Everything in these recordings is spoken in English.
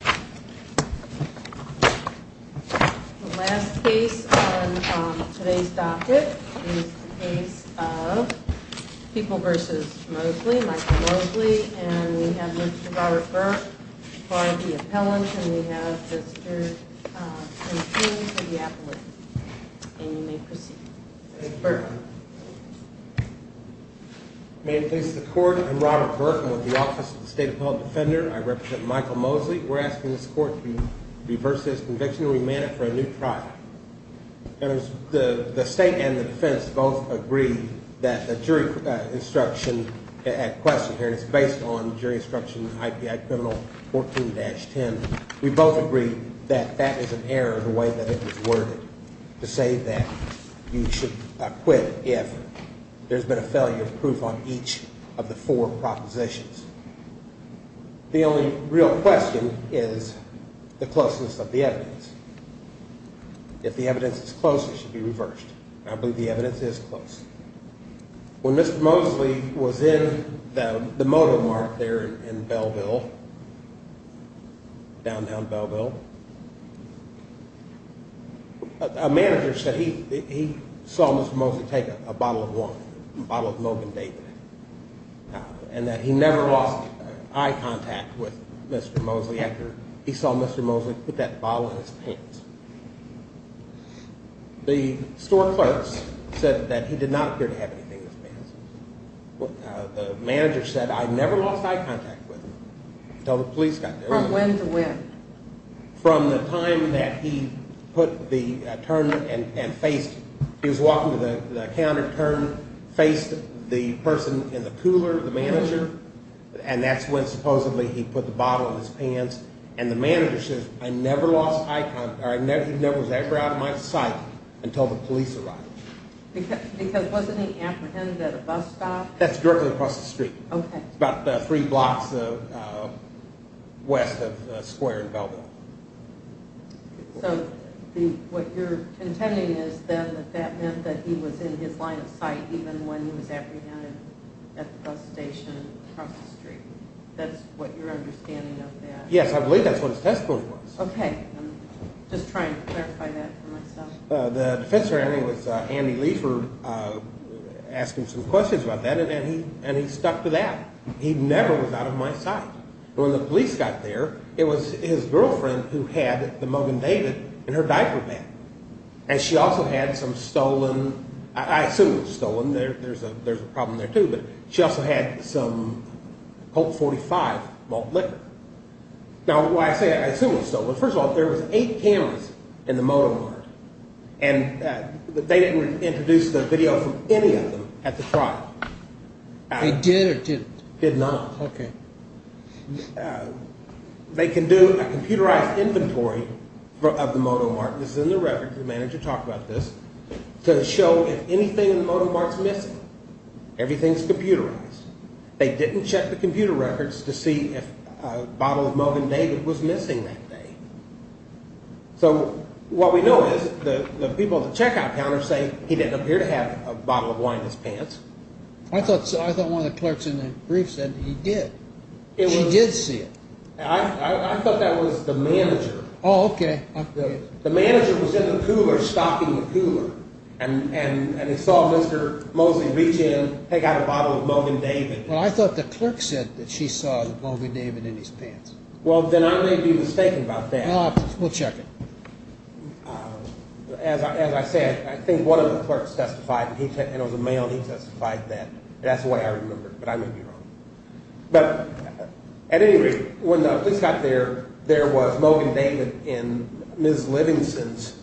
The last case on today's docket is the case of People v. Mosley, Michael Mosley, and we have Mr. Robert Burke as the appellant, and we have Mr. Stanton for the appellate. And you may proceed. Robert Burke May it please the Court, I'm Robert Burke. I'm with the Office of the State Appellate Defender. I represent Michael Mosley. We're asking this Court to reverse this conviction and remand it for a new trial. The state and the defense both agree that the jury instruction at question here is based on jury instruction IPI criminal 14-10. We both agree that that is an error in the way that it was worded to say that you should quit if there's been a failure of proof on each of the four propositions. The only real question is the closeness of the evidence. If the evidence is close, it should be reversed. I believe the evidence is close. When Mr. Mosley was in the motor mart there in Belleville, downtown Belleville, a manager said he saw Mr. Mosley take a bottle of wine, a bottle of Mogan David. And that he never lost eye contact with Mr. Mosley after he saw Mr. Mosley put that bottle in his pants. The store clerks said that he did not appear to have anything in his pants. The manager said I never lost eye contact with him until the police got there. From when to when? From the time that he put the turn and faced, he was walking to the counter turn, faced the person in the cooler, the manager, and that's when supposedly he put the bottle in his pants. And the manager says I never lost eye contact, or he never was ever out of my sight until the police arrived. Because wasn't he apprehended at a bus stop? That's directly across the street. Okay. About three blocks west of Square in Belleville. So what you're contending is then that that meant that he was in his line of sight even when he was apprehended at the bus station across the street. That's what you're understanding of that. Yes, I believe that's what his testimony was. Okay. I'm just trying to clarify that for myself. The officer, I think it was Andy Leifer, asked him some questions about that and he stuck to that. He never was out of my sight. When the police got there, it was his girlfriend who had the Mug and David in her diaper bag. And she also had some stolen, I assume it was stolen, there's a problem there too, but she also had some Colt 45 malt liquor. Now, why say I assume it was stolen? First of all, there was eight cameras in the motor. And they didn't introduce the video from any of them at the trial. They did or didn't? Did not. Okay. They can do a computerized inventory of the Moto Mart. This is in the record. The manager talked about this to show if anything in the Moto Mart's missing. Everything's computerized. They didn't check the computer records to see if a bottle of Mug and David was missing that day. So what we know is the people at the checkout counter say he didn't appear to have a bottle of wine in his pants. I thought one of the clerks in the brief said he did. She did see it. I thought that was the manager. Oh, okay. The manager was in the cooler, stopping the cooler. And he saw Mr. Mosley reach in, take out a bottle of Mug and David. Well, I thought the clerk said that she saw Mug and David in his pants. Well, then I may be mistaken about that. We'll check it. As I said, I think one of the clerks testified, and it was a male, and he testified that. That's the way I remember it, but I may be wrong. But at any rate, when the police got there, there was Mug and David in Ms. Livingston's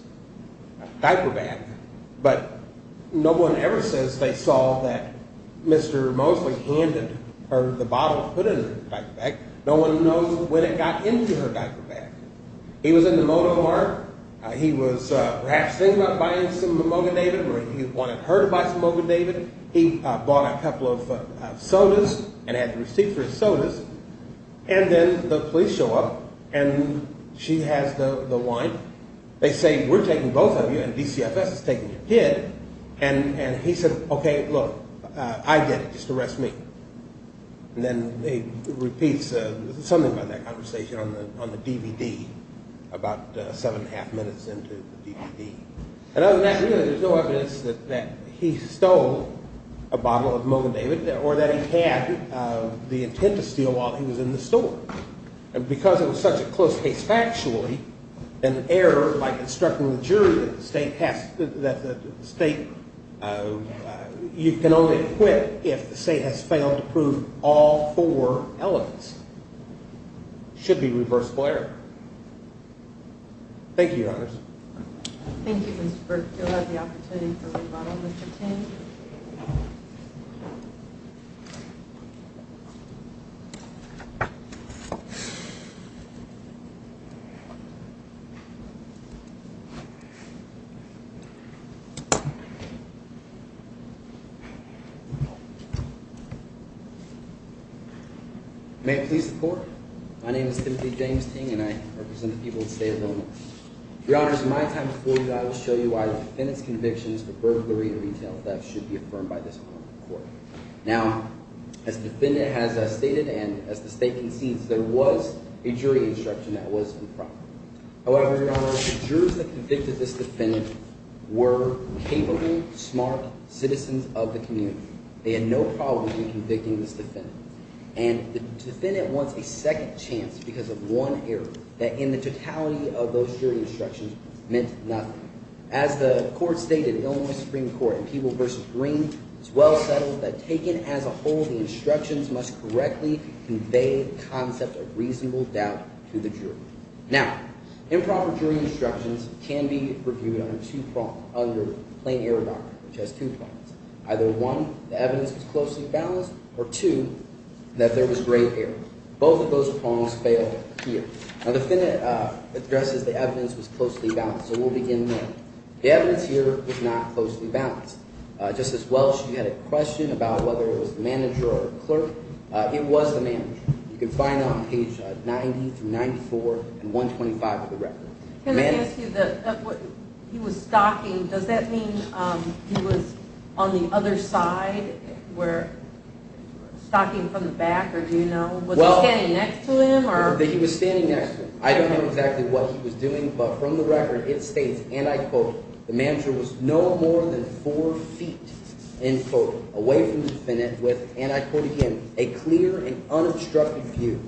diaper bag. But no one ever says they saw that Mr. Mosley handed her the bottle put in her diaper bag. No one knows when it got into her diaper bag. He was in the motor car. He was perhaps thinking about buying some Mug and David, or he wanted her to buy some Mug and David. He bought a couple of sodas and had the receipt for his sodas. And then the police show up, and she has the wine. They say, we're taking both of you, and DCFS is taking your kid. And he said, okay, look, I did it. Just arrest me. And then he repeats something about that conversation on the DVD about seven and a half minutes into the DVD. And other than that, really, there's no evidence that he stole a bottle of Mug and David or that he had the intent to steal while he was in the store. And because it was such a close case factually, an error by constructing the jury that the state has – that the state – you can only acquit if the state has failed to prove all four elements should be reversible error. Thank you, Mr. Burke. You'll have the opportunity for rebuttal, Mr. Ting. May I please report? My name is Timothy James Ting, and I represent the people of the state of Illinois. Your Honors, in my time before you, I will show you why the defendant's convictions for burglary and retail theft should be affirmed by this moment in court. Now, as the defendant has stated and as the state concedes, there was a jury instruction that was in front. However, Your Honors, the jurors that convicted this defendant were capable, smart citizens of the community. They had no problem in convicting this defendant, and the defendant wants a second chance because of one error that in the totality of those jury instructions meant nothing. As the court stated in Illinois Supreme Court in Peeble v. Green, it's well settled that taken as a whole, the instructions must correctly convey the concept of reasonable doubt to the jury. Now, improper jury instructions can be reviewed under two – under plain error doctrine, which has two prongs. Either one, the evidence was closely balanced, or two, that there was great error. Both of those prongs fail here. Now, the defendant addresses the evidence was closely balanced, so we'll begin there. The evidence here was not closely balanced. Justice Welsh, you had a question about whether it was the manager or the clerk. It was the manager. You can find that on page 90 through 94 and 125 of the record. Can I ask you the – he was stalking. Does that mean he was on the other side where – stalking from the back, or do you know? Was he standing next to him, or – He was standing next to him. I don't know exactly what he was doing, but from the record, it states, and I quote, the manager was no more than four feet, end quote, away from the defendant with, and I quote again, a clear and unobstructed view.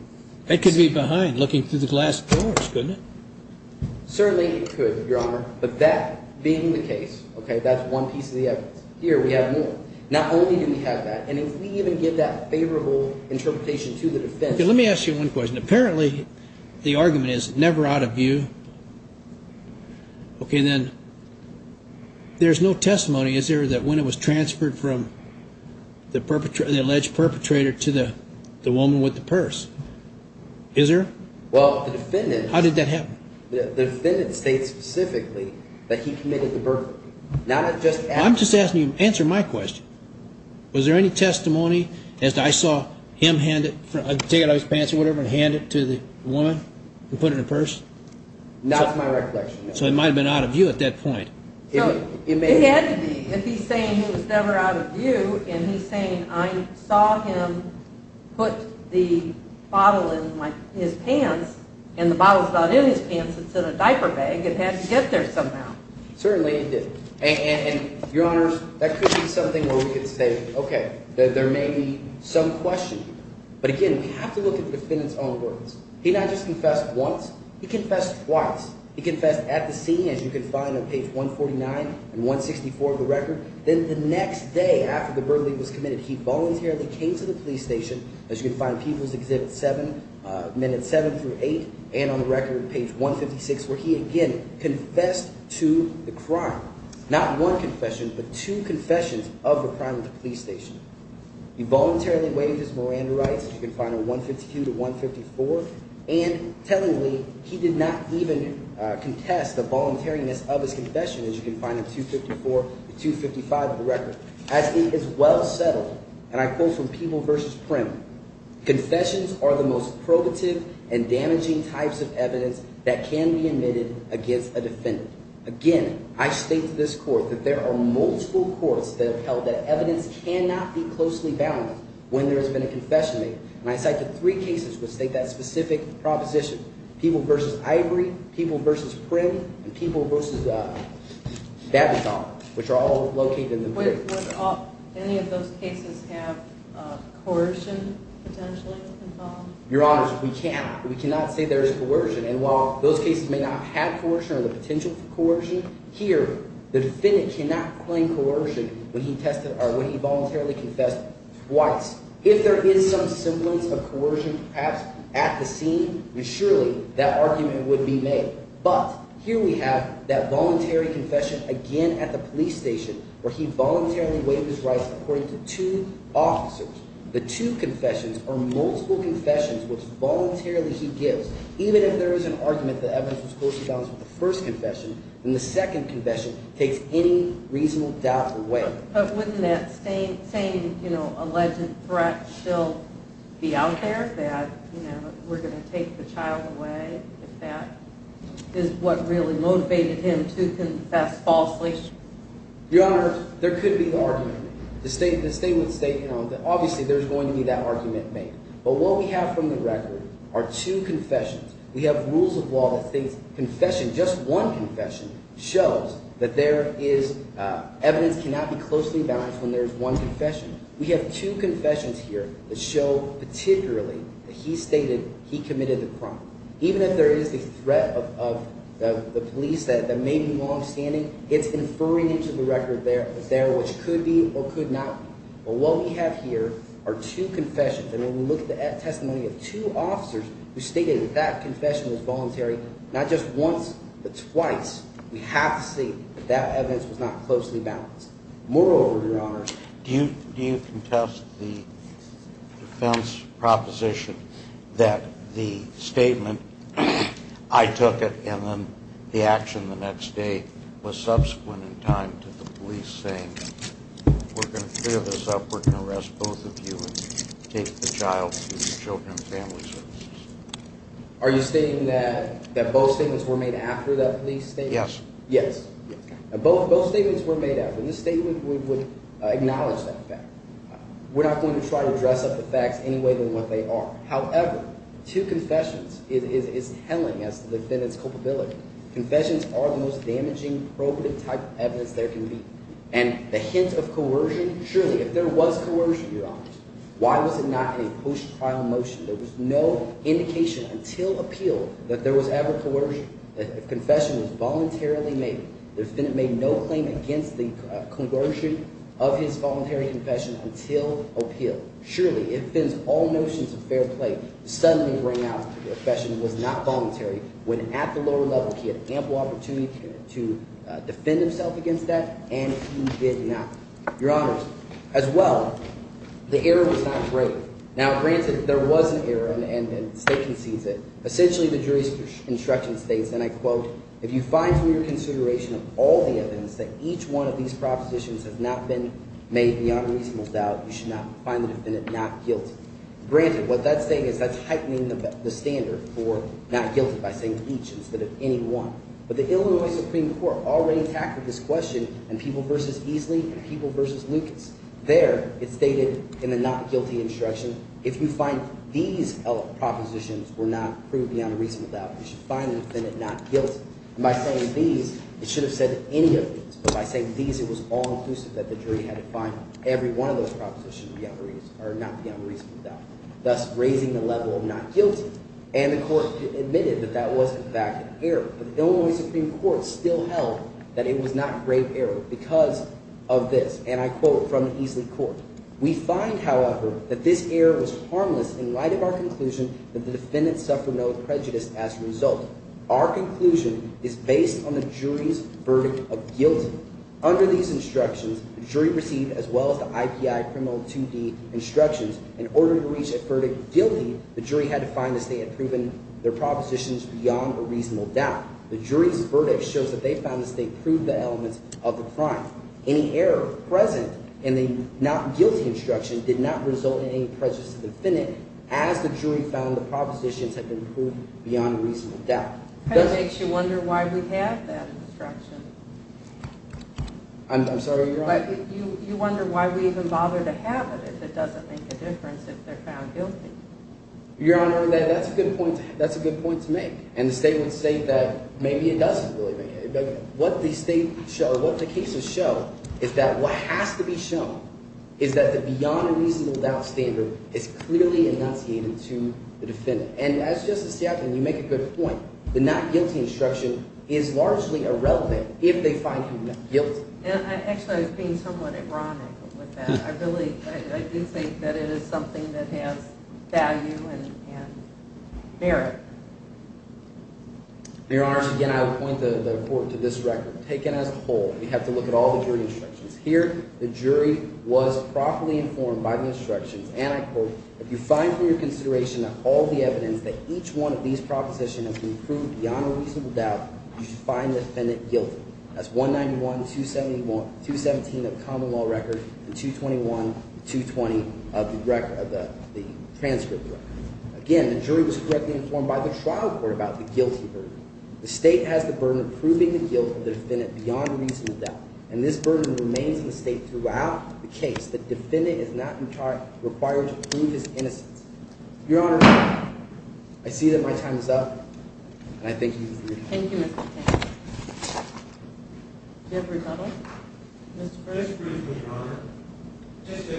It could be behind, looking through the glass doors, couldn't it? Certainly it could, Your Honor, but that being the case, okay, that's one piece of the evidence. Here we have more. Not only do we have that, and if we even give that favorable interpretation to the defense – Okay, let me ask you one question. Apparently the argument is never out of view. Okay, then there's no testimony, is there, that when it was transferred from the alleged perpetrator to the woman with the purse, is there? Well, the defendant – How did that happen? The defendant states specifically that he committed the burglary, not just – I'm just asking you to answer my question. Was there any testimony as to I saw him hand it, take it out of his pants or whatever, and hand it to the woman and put it in her purse? Not to my recollection, no. So it might have been out of view at that point. It had to be. If he's saying it was never out of view, and he's saying I saw him put the bottle in his pants, and the bottle's not in his pants, it's in a diaper bag, it had to get there somehow. Certainly it didn't. And, Your Honors, that could be something where we could say, okay, there may be some question. But again, we have to look at the defendant's own words. He not just confessed once. He confessed twice. He confessed at the scene, as you can find on page 149 and 164 of the record. Then the next day after the burglary was committed, he voluntarily came to the police station, as you can find in People's Exhibit 7, minutes 7 through 8, and on the record, page 156, where he again confessed to the crime. Not one confession, but two confessions of the crime at the police station. He voluntarily waived his Miranda rights, as you can find on 152 to 154. And tellingly, he did not even contest the voluntariness of his confession, as you can find in 254 to 255 of the record. As he is well settled, and I quote from People v. Prim, confessions are the most probative and damaging types of evidence that can be admitted against a defendant. Again, I state to this court that there are multiple courts that have held that evidence cannot be closely bounded when there has been a confession made. And I cite the three cases which state that specific proposition. People v. Ivory, People v. Prim, and People v. Babaton, which are all located in the… Would any of those cases have coercion potentially involved? Your Honors, we cannot. We cannot say there is coercion. And while those cases may not have coercion or the potential for coercion, here the defendant cannot claim coercion when he tested or when he voluntarily confessed twice. If there is some semblance of coercion perhaps at the scene, then surely that argument would be made. But here we have that voluntary confession again at the police station where he voluntarily waived his rights according to two officers. The two confessions are multiple confessions which voluntarily he gives. Even if there is an argument that evidence was closely balanced with the first confession, then the second confession takes any reasonable doubt away. But wouldn't that same, you know, alleged threat still be out there that, you know, we're going to take the child away if that is what really motivated him to confess falsely? Your Honors, there could be an argument. The statement states, you know, that obviously there's going to be that argument made. But what we have from the record are two confessions. We have rules of law that states confession, just one confession, shows that there is evidence cannot be closely balanced when there is one confession. We have two confessions here that show particularly that he stated he committed the crime. Even if there is the threat of the police that may be longstanding, it's inferring into the record there what could be or could not be. But what we have here are two confessions. And when we look at the testimony of two officers who stated that that confession was voluntary, not just once but twice, we have to say that that evidence was not closely balanced. Do you contest the defense proposition that the statement, I took it, and then the action the next day was subsequent in time to the police saying, we're going to clear this up, we're going to arrest both of you and take the child to the Children and Family Services? Are you stating that both statements were made after that police statement? Yes. Yes. Both statements were made after. In this statement, we would acknowledge that fact. We're not going to try to dress up the facts any way than what they are. However, two confessions is telling us the defendant's culpability. Confessions are the most damaging, probative type of evidence there can be. And the hint of coercion, surely, if there was coercion, Your Honor, why was it not in a post-trial motion? There was no indication until appeal that there was ever coercion. The confession was voluntarily made. The defendant made no claim against the coercion of his voluntary confession until appeal. Surely, if Fenn's all notions of fair play suddenly ring out, the confession was not voluntary. When at the lower level, he had ample opportunity to defend himself against that, and he did not. Your Honor, as well, the error was not grave. Now, granted, there was an error, and the state concedes it. Essentially, the jury's instruction states, and I quote, If you find from your consideration of all the evidence that each one of these propositions has not been made beyond reasonable doubt, you should not find the defendant not guilty. Granted, what that's saying is that's heightening the standard for not guilty by saying each instead of any one. But the Illinois Supreme Court already tackled this question in People v. Easley and People v. Lucas. There, it stated in the not guilty instruction, if you find these propositions were not proved beyond reasonable doubt, you should find the defendant not guilty. And by saying these, it should have said any of these. But by saying these, it was all-inclusive that the jury had to find every one of those propositions beyond reasonable – or not beyond reasonable doubt, thus raising the level of not guilty. And the court admitted that that was, in fact, an error. But the Illinois Supreme Court still held that it was not a grave error because of this. And I quote from the Easley court. We find, however, that this error was harmless in light of our conclusion that the defendant suffered no prejudice as a result. Our conclusion is based on the jury's verdict of guilty. Under these instructions, the jury received, as well as the IPI criminal 2D instructions, in order to reach a verdict of guilty, the jury had to find that they had proven their propositions beyond a reasonable doubt. The jury's verdict shows that they found that they proved the elements of the crime. Any error present in the not guilty instruction did not result in any prejudice to the defendant. As the jury found, the propositions had been proved beyond reasonable doubt. That makes you wonder why we have that instruction. I'm sorry, Your Honor? You wonder why we even bother to have it if it doesn't make a difference if they're found guilty. Your Honor, that's a good point to make. And the state would say that maybe it doesn't really make a difference. What the cases show is that what has to be shown is that the beyond a reasonable doubt standard is clearly enunciated to the defendant. And as Justice Stapleton, you make a good point. The not guilty instruction is largely irrelevant if they find him guilty. Actually, I was being somewhat ironic with that. I really – I do think that it is something that has value and merit. Your Honor, again, I would point the court to this record. Taken as a whole, we have to look at all the jury instructions. Here, the jury was properly informed by the instructions, and I quote, If you find from your consideration that all the evidence that each one of these propositions has been proved beyond a reasonable doubt, you should find the defendant guilty. That's 191-217 of the common law record and 221-220 of the transcript record. Again, the jury was correctly informed by the trial court about the guilty verdict. The state has the burden of proving the guilt of the defendant beyond a reasonable doubt. And this burden remains in the state throughout the case. The defendant is not, in part, required to prove his innocence. Your Honor, I see that my time is up, and I thank you for your time. Thank you, Mr. Tate. Do you have a rebuttal? Mr. Price. Just briefly, Your Honor. Just to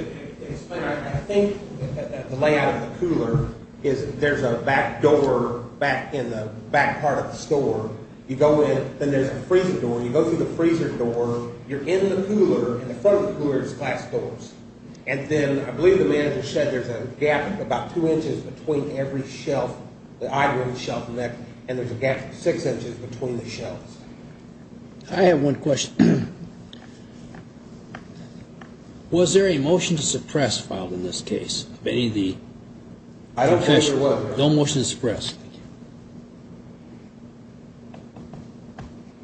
explain, I think that the layout of the cooler is there's a back door back in the back part of the store. You go in, then there's a freezer door. You go through the freezer door, you're in the cooler, and the front of the cooler is glass doors. And then, I believe the manager said there's a gap about two inches between every shelf, the iron shelf, and there's a gap of six inches between the shelves. I have one question. Was there a motion to suppress filed in this case? I don't think there was, Your Honor. No motion to suppress.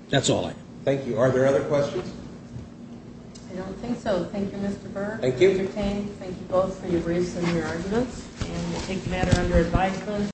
That's all I have. Thank you. Are there other questions? I don't think so. Thank you, Mr. Berg. Thank you. Mr. Tate, thank you both for your briefs and your arguments. And we'll take the matter under advisement.